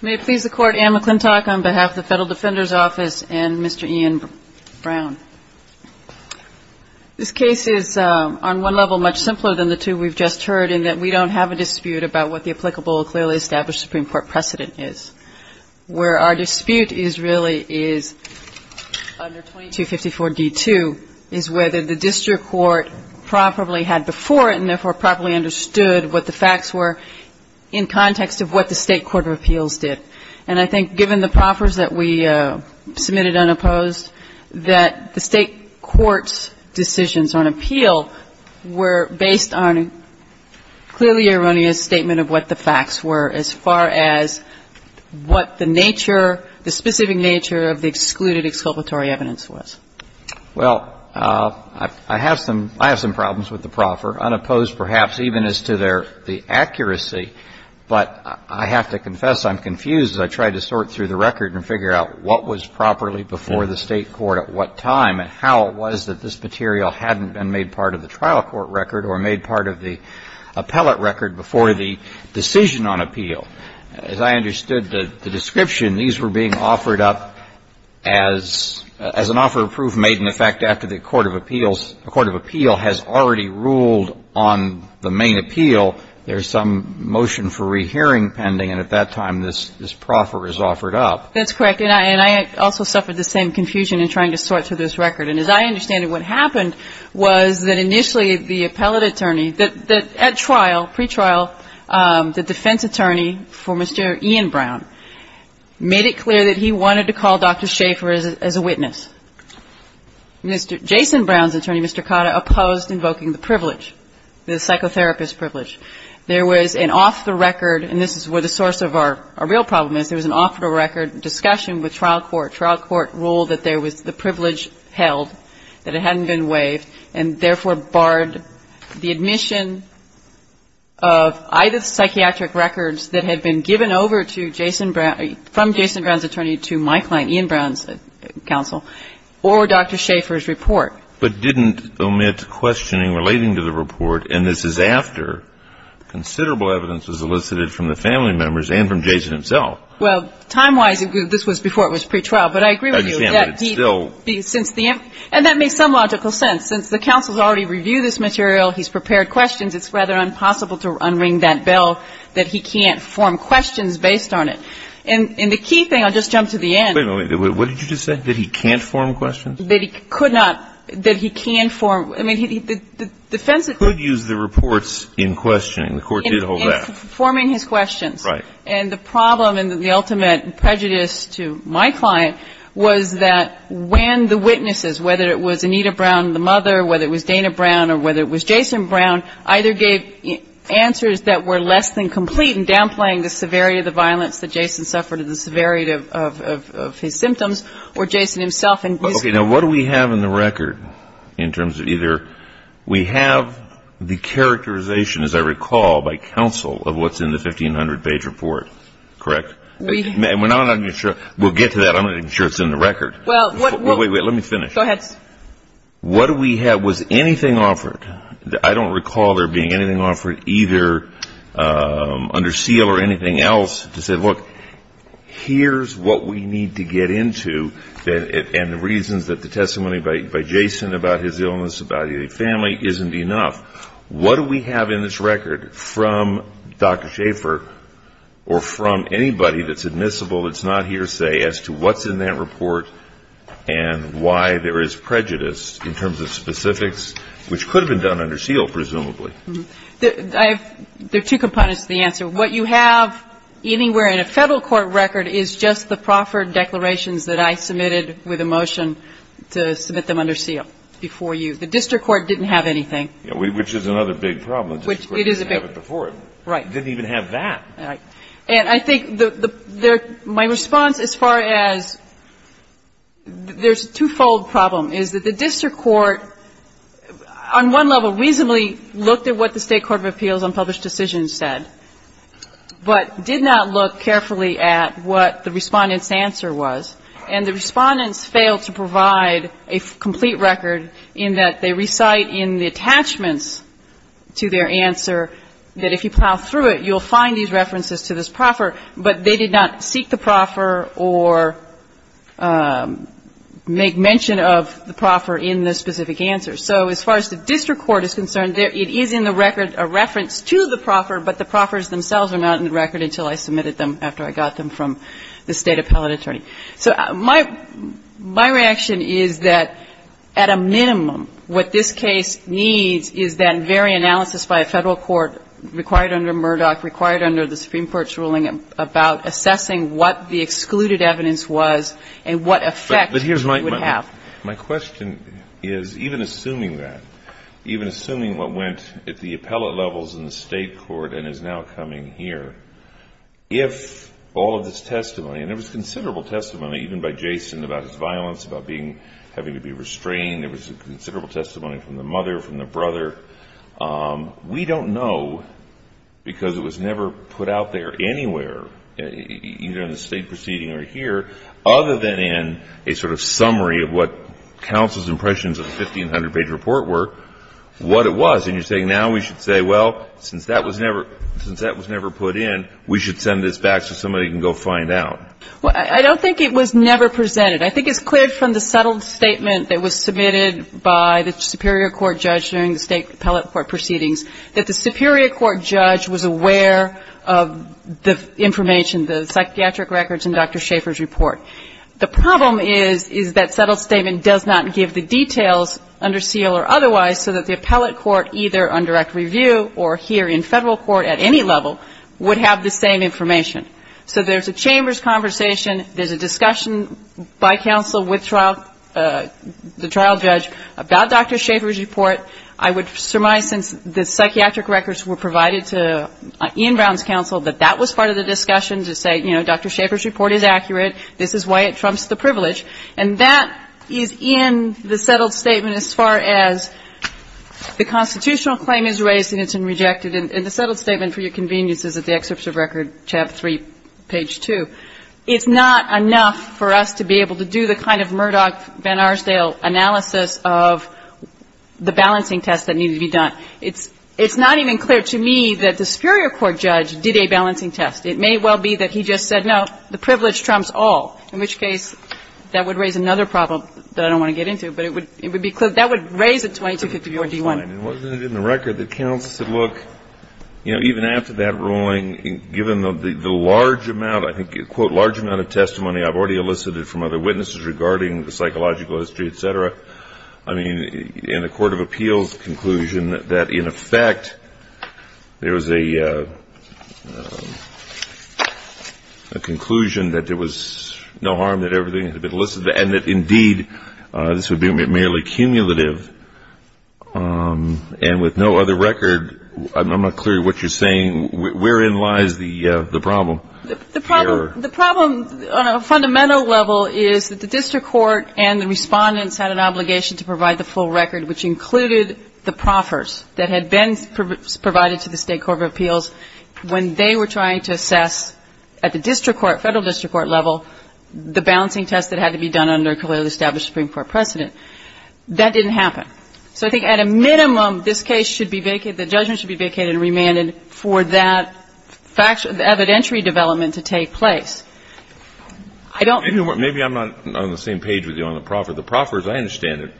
May it please the Court, Anne McClintock on behalf of the Federal Defender's Office and Mr. Ian Brown. This case is on one level much simpler than the two we've just heard in that we don't have a dispute about what the applicable clearly established Supreme Court precedent is. Where our dispute is really is under 2254d2 is whether the district court properly had before it and therefore properly understood what the facts were in context of what the State Court of Appeals did. And I think given the proffers that we submitted unopposed that the State Court's decisions on appeal were based on clearly erroneous statement of what the facts were as far as what the nature, the specific nature of the excluded exculpatory evidence was. Well, I have some problems with the proffer, unopposed perhaps even as to their accuracy, but I have to confess I'm confused as I try to sort through the record and figure out what was properly before the State Court at what time and how it was that this material hadn't been made part of the trial court record or made part of the appellate record before the decision on appeal. As I understood the description, these were being offered up as an offer of proof made in effect after the Court of Appeals, the Court of Appeal has already ruled on the main appeal. There's some motion for rehearing pending and at that time this proffer is offered up. That's correct. And I also suffered the same confusion in trying to sort through this record. And as I understand it, what happened was that initially the appellate attorney that at trial, pretrial, the defense attorney for Mr. Ian Brown made it clear that he wanted to call Dr. Schaffer as a witness. Mr. Jason Brown's attorney, Mr. Cotta, opposed invoking the privilege, the psychotherapist privilege. There was an off-the-record, and this is where the source of our real problem is, there was an off-the-record discussion with trial court. Trial court ruled that there was the privilege held, that it hadn't been waived, and therefore barred the admission of either psychiatric records that had been given over to Jason Brown, from Jason Brown's attorney to my client, Ian Brown's counsel, or Dr. Schaffer's report. But didn't omit questioning relating to the report, and this is after considerable evidence was elicited from the family members and from Jason himself. Well, time-wise, this was before it was pretrial, but I agree with you. I understand, but it's still. And that makes some logical sense. Since the counsel's already reviewed this material, he's prepared questions, it's rather impossible to unring that bell that he can't form questions based on it. And the key thing, I'll just jump to the end. Wait a minute. What did you just say? That he can't form questions? That he could not. That he can form. I mean, the defense is that he could use the reports in questioning. The court did hold that. In forming his questions. Right. And the problem and the ultimate prejudice to my client was that when the witnesses, whether it was Anita Brown, the mother, whether it was Dana Brown or whether it was Jason Brown, either gave answers that were less than complete in downplaying the severity of the violence that Jason suffered and the severity of his symptoms or Jason himself. Okay. Now, what do we have in the record in terms of either we have the characterization, as I recall, by counsel of what's in the 1,500-page report, correct? And we're not even sure. We'll get to that. I'm not even sure it's in the record. Wait, wait. Let me finish. Go ahead. What do we have? I don't recall there being anything offered either under seal or anything else to say, look, here's what we need to get into and the reasons that the testimony by Jason about his illness, about his family, isn't enough. What do we have in this record from Dr. Schaffer or from anybody that's admissible, that's not hearsay, as to what's in that report and why there is prejudice in terms of specifics, which could have been done under seal, presumably? There are two components to the answer. What you have anywhere in a Federal court record is just the proffered declarations that I submitted with a motion to submit them under seal before you. The district court didn't have anything. Which is another big problem. It is a big problem. The district court didn't have it before. Right. It didn't even have that. Right. And I think my response as far as there's a two-fold problem is that the district court, on one level, reasonably looked at what the State Court of Appeals on Published Decisions said, but did not look carefully at what the Respondent's answer was. And the Respondents failed to provide a complete record in that they recite in the attachments to their answer that if you plow through it, you'll find these references to this proffer, but they did not seek the proffer or make mention of the proffer in the specific answer. So as far as the district court is concerned, it is in the record, a reference to the proffer, but the proffers themselves are not in the record until I submitted them after I got them from the State appellate attorney. So my reaction is that at a minimum, what this case needs is that very analysis by a Federal court, required under Murdoch, required under the Supreme Court's ruling about assessing what the excluded evidence was and what effect it would have. My question is, even assuming that, even assuming what went at the appellate levels in the State court and is now coming here, if all of this testimony, and there was considerable testimony, even by Jason, about his violence, about having to be restrained. There was considerable testimony from the mother, from the brother. We don't know because it was never put out there anywhere, either in the State proceeding or here, other than in a sort of summary of what counsel's impressions of the 1,500-page report were, what it was. And you're saying now we should say, well, since that was never put in, we should send this back so somebody can go find out. Well, I don't think it was never presented. I think it's clear from the settled statement that was submitted by the Superior Court judge during the State appellate court proceedings that the Superior Court judge was aware of the information, the psychiatric records in Dr. Schaeffer's report. The problem is that settled statement does not give the details under seal or otherwise so that the appellate court, either on direct review or here in Federal court at any level, would have the same information. So there's a chambers conversation. There's a discussion by counsel with the trial judge about Dr. Schaeffer's report. I would surmise since the psychiatric records were provided to Ian Brown's counsel, that that was part of the discussion to say, you know, Dr. Schaeffer's report is accurate. This is why it trumps the privilege. And that is in the settled statement as far as the constitutional claim is raised and it's been rejected. And the settled statement, for your convenience, is at the excerpts of record, chapter 3, page 2. It's not enough for us to be able to do the kind of Murdoch-Vanarsdale analysis of the balancing test that needed to be done. It's not even clear to me that the superior court judge did a balancing test. It may well be that he just said, no, the privilege trumps all, in which case that would raise another problem that I don't want to get into. But it would be clear. That would raise a 2254-D1. Kennedy. Wasn't it in the record that counsel said, look, you know, even after that ruling, given the large amount, I think, quote, large amount of testimony I've already elicited from other witnesses regarding the psychological history, et cetera, I mean, in the court of appeals conclusion that in effect there was a conclusion that there was no harm that everything had been elicited and that, indeed, this would be merely cumulative and with no other record. I'm not clear what you're saying. Wherein lies the problem? The problem on a fundamental level is that the district court and the respondents had an obligation to provide the full record, which included the proffers that had been provided to the state court of appeals when they were trying to assess at the district court, federal district court level, the balancing test that had to be done under a clearly established Supreme Court precedent. That didn't happen. So I think at a minimum, this case should be vacated, the judgment should be vacated and remanded for that evidentiary development to take place. I don't know. Maybe I'm not on the same page with you on the proffers. The proffers, I understand it,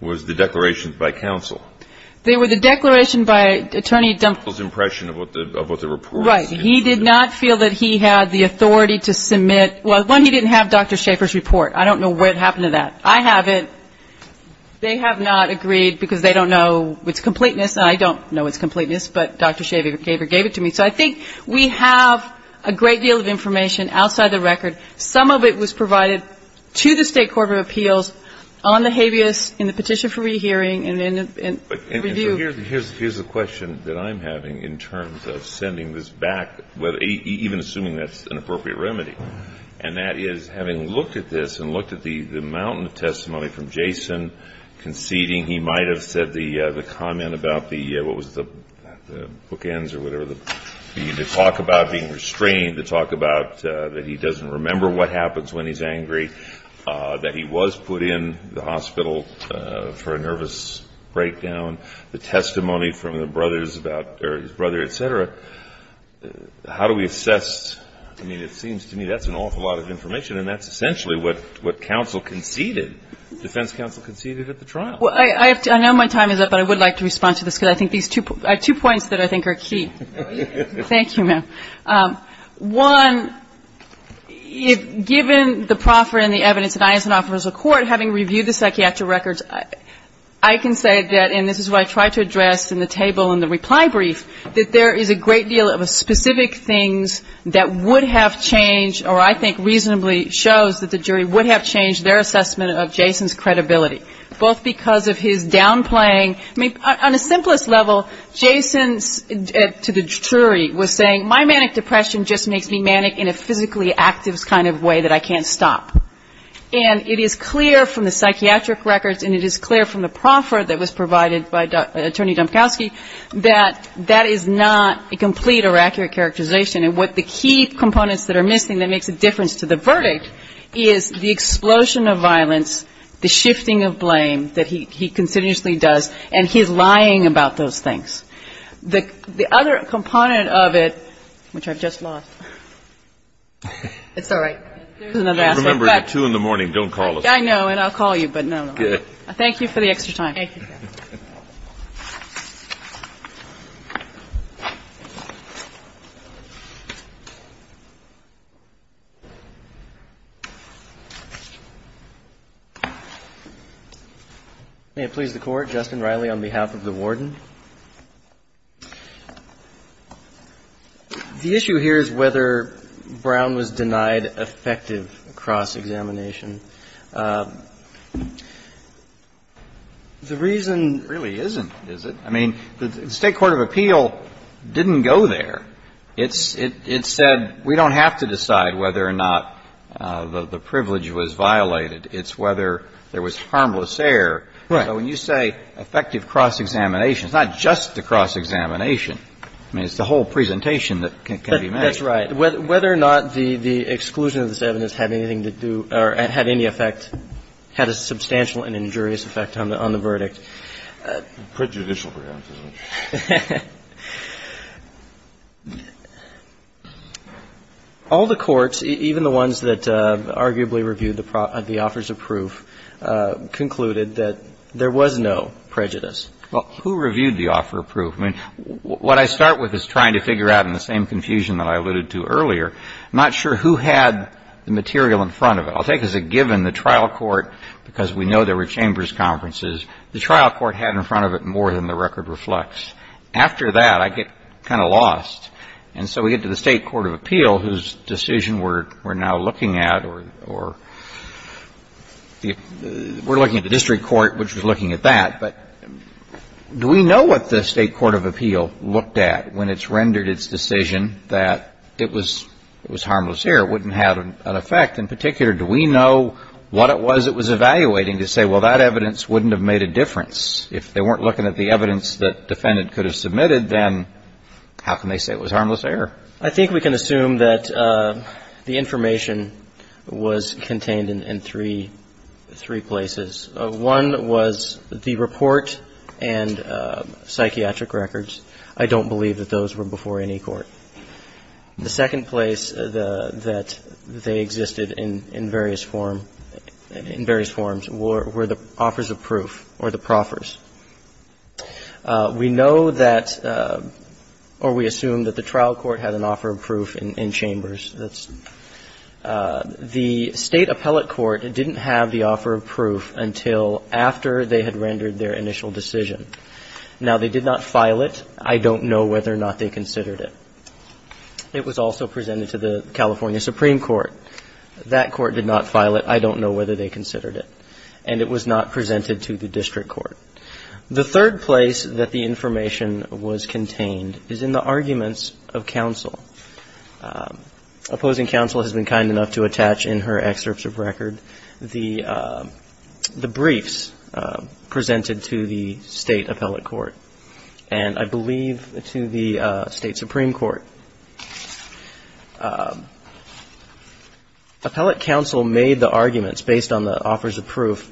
was the declarations by counsel. They were the declaration by Attorney General's impression of what the report said. Right. He did not feel that he had the authority to submit. Well, one, he didn't have Dr. Schaffer's report. I don't know what happened to that. I have it. They have not agreed because they don't know its completeness. I don't know its completeness, but Dr. Schaffer gave it to me. So I think we have a great deal of information outside the record. Some of it was provided to the State court of appeals on the habeas in the petition for rehearing and then in review. And so here's the question that I'm having in terms of sending this back, even assuming that's an appropriate remedy, and that is, having looked at this and looked at the mountain of testimony from Jason conceding, he might have said the comment about the, what was it, the bookends or whatever, the talk about being restrained, the talk about that he doesn't remember what happens when he's angry, that he was put in the hospital for a nervous breakdown, the testimony from the brothers about, or his brother, et cetera. How do we assess? I mean, it seems to me that's an awful lot of information, and that's essentially what counsel conceded, defense counsel conceded at the trial. Well, I know my time is up, but I would like to respond to this because I think these two points that I think are key. Thank you, ma'am. One, given the proffer and the evidence that I as an officer of court, having reviewed the psychiatric records, I can say that, and this is what I tried to address in the table in the reply brief, that there is a great deal of specific things that would have changed or I think reasonably shows that the jury would have changed their assessment of Jason's credibility, both because of his downplaying. I mean, on a simplest level, Jason, to the jury, was saying, my manic depression just makes me manic in a physically active kind of way that I can't stop. And it is clear from the psychiatric records and it is clear from the proffer that was provided by Attorney Domkowski that that is not a complete or accurate characterization. And what the key components that are missing that makes a difference to the verdict is the explosion of violence, the shifting of blame that he continuously does, and his lying about those things. The other component of it, which I've just lost. It's all right. There's another aspect. Remember, at 2 in the morning, don't call us. I know, and I'll call you, but no. Good. Thank you for the extra time. Thank you. May it please the Court. Justin Riley on behalf of the Warden. The issue here is whether Brown was denied effective cross-examination. The reason really isn't, is it? I mean, the State court of appeal didn't go there. It said we don't have to decide whether or not the privilege was violated. It's whether there was harmless error. Right. So when you say effective cross-examination, it's not just the cross-examination. I mean, it's the whole presentation that can be made. That's right. Whether or not the exclusion of this evidence had anything to do or had any effect, had a substantial and injurious effect on the verdict. Prejudicial prejudice. All the courts, even the ones that arguably reviewed the offers of proof, concluded that there was no prejudice. Well, who reviewed the offer of proof? I mean, what I start with is trying to figure out in the same confusion that I alluded to earlier, I'm not sure who had the material in front of it. I'll take as a given the trial court, because we know there were chambers conferences, the trial court had in front of it more than the record reflects. After that, I get kind of lost. And so we get to the State court of appeal, whose decision we're now looking at, or we're looking at the district court, which was looking at that. But do we know what the State court of appeal looked at when it's rendered its decision that it was harmless error, wouldn't have an effect? In particular, do we know what it was it was evaluating to say, well, that evidence wouldn't have made a difference? If they weren't looking at the evidence that defendant could have submitted, then how can they say it was harmless error? I think we can assume that the information was contained in three places. One was the report and psychiatric records. I don't believe that those were before any court. The second place that they existed in various form, in various forms, were the offers of proof or the proffers. We know that, or we assume that the trial court had an offer of proof in chambers. The State appellate court didn't have the offer of proof until after they had rendered their initial decision. Now, they did not file it. I don't know whether or not they considered it. It was also presented to the California Supreme Court. That court did not file it. I don't know whether they considered it. And it was not presented to the district court. The third place that the information was contained is in the arguments of counsel. Opposing counsel has been kind enough to attach in her excerpts of record the briefs presented to the State appellate court, and I believe to the State Supreme Court. Appellate counsel made the arguments based on the offers of proof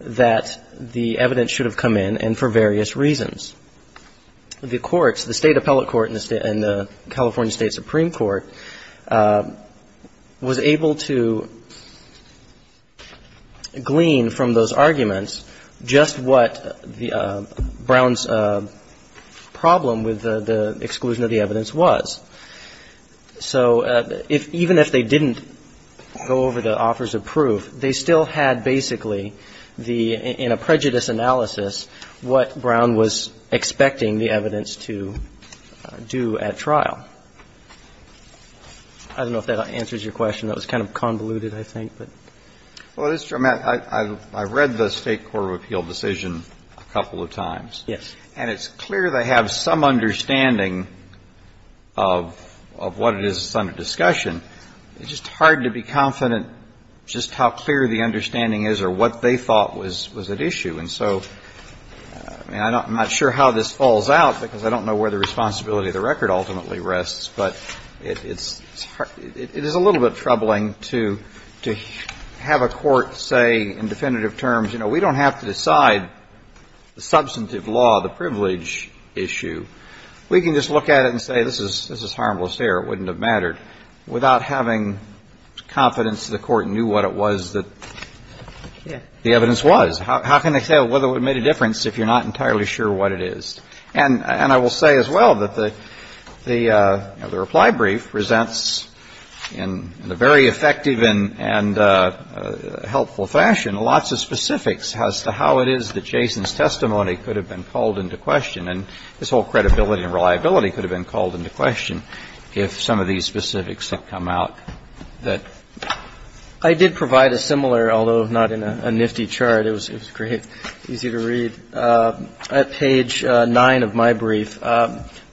that the evidence should have come in, and for various reasons. The courts, the State appellate court and the California State Supreme Court, was able to glean from those arguments just what Brown's problem with the exclusion of the evidence was. So even if they didn't go over the offers of proof, they still had basically in a prejudice analysis what Brown was expecting the evidence to do at trial. I don't know if that answers your question. That was kind of convoluted, I think. Well, it is dramatic. I read the State Court of Appeal decision a couple of times. Yes. And it's clear they have some understanding of what it is a Senate discussion. It's just hard to be confident just how clear the understanding is or what they thought was at issue. And so I'm not sure how this falls out, because I don't know where the responsibility of the record ultimately rests, but it is a little bit troubling to have a court say in definitive terms, you know, we don't have to decide the substantive law, the privilege issue. We can just look at it and say this is harmless here. It wouldn't have mattered. Without having confidence the court knew what it was that the evidence was. How can they say whether it made a difference if you're not entirely sure what it is? And I will say as well that the reply brief presents in a very effective and helpful fashion lots of specifics as to how it is that Jason's testimony could have been called into question. And this whole credibility and reliability could have been called into question if some of these specifics had come out that I did provide a similar, although not in a nifty chart. It was great, easy to read. At page 9 of my brief,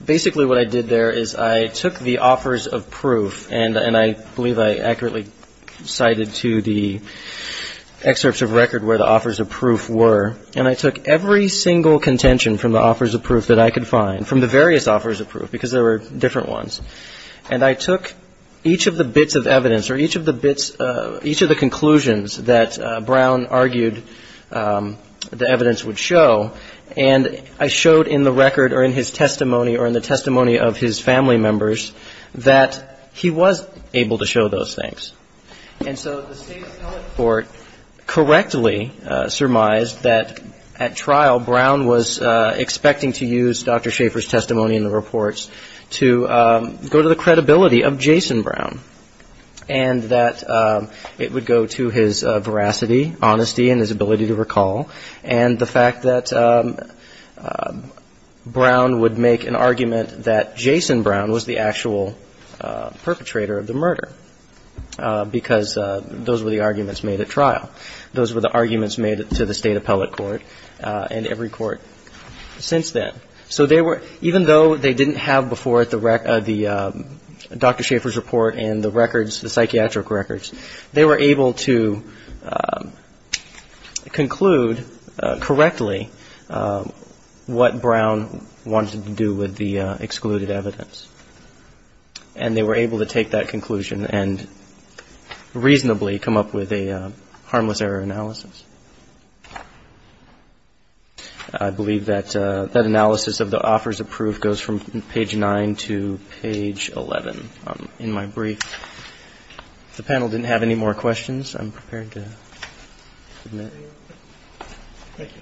basically what I did there is I took the offers of proof, and I believe I accurately cited to the excerpts of record where the offers of proof were, and I took every single contention from the offers of proof that I could find, from the various offers of proof, because there were different ones, and I took each of the bits of evidence or each of the bits, each of the conclusions that Brown argued the evidence would show, and I showed in the record or in his testimony or in the testimony of his family members that he was able to show those things. And so the State's court correctly surmised that at trial, Brown was expecting to use Dr. Schaeffer's testimony in the reports to go to the credibility of Jason Brown, and that it would go to his veracity, honesty, and his ability to recall, and the fact that Brown would make an argument that Jason Brown was the actual perpetrator of the murder. Because those were the arguments made at trial. Those were the arguments made to the State Appellate Court and every court since then. So even though they didn't have before the Dr. Schaeffer's report and the psychiatric records, they were able to conclude correctly what Brown wanted to do with the excluded evidence, and they were able to take that conclusion and reasonably come up with a harmless error analysis. I believe that that analysis of the offers approved goes from page 9 to page 11 in my brief. If the panel didn't have any more questions, I'm prepared to submit. Thank you.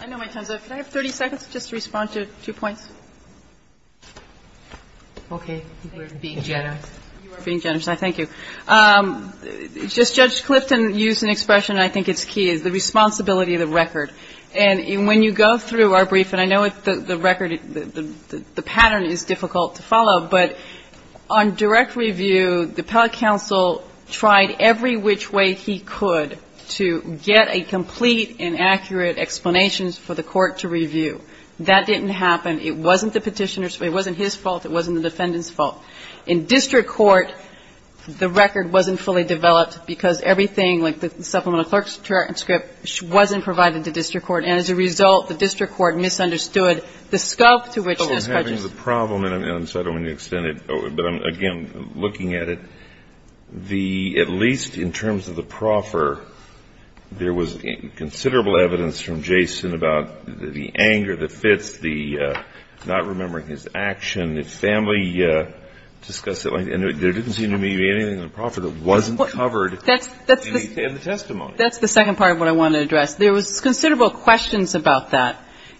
I know my time's up. Can I have 30 seconds just to respond to two points? Okay. We're being generous. You are being generous. I thank you. Just Judge Clifton used an expression, I think it's key, is the responsibility of the record. And when you go through our brief, and I know the record, the pattern is difficult to follow, but on direct review, the appellate counsel tried every which way he could to get a complete and accurate explanation for the court to review. That didn't happen. It wasn't the Petitioner's fault. It wasn't his fault. It wasn't the defendant's fault. In district court, the record wasn't fully developed because everything, like the supplemental clerk's transcript, wasn't provided to district court. And as a result, the district court misunderstood the scope to which this prejudice And so I don't want to extend it, but again, looking at it, the at least in terms of the proffer, there was considerable evidence from Jason about the anger that fits the not remembering his action. His family discussed it. And there didn't seem to be anything in the proffer that wasn't covered in the testimony. That's the second part of what I want to address. There was considerable questions about that.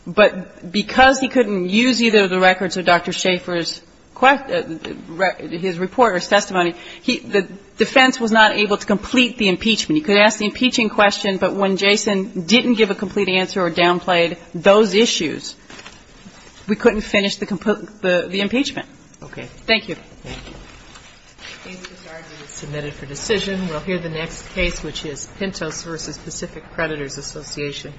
But because he couldn't use either of the records of Dr. Schaefer's report or testimony, the defense was not able to complete the impeachment. He could ask the impeaching question, but when Jason didn't give a complete answer or downplayed those issues, we couldn't finish the impeachment. Okay. Thank you. Thank you. This argument is submitted for decision. We'll hear the next case, which is Pintos v. Pacific Creditors Association.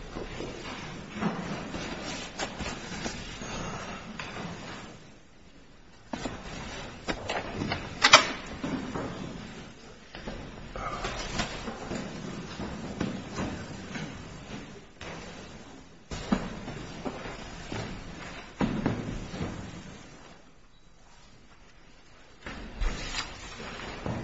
Thank you.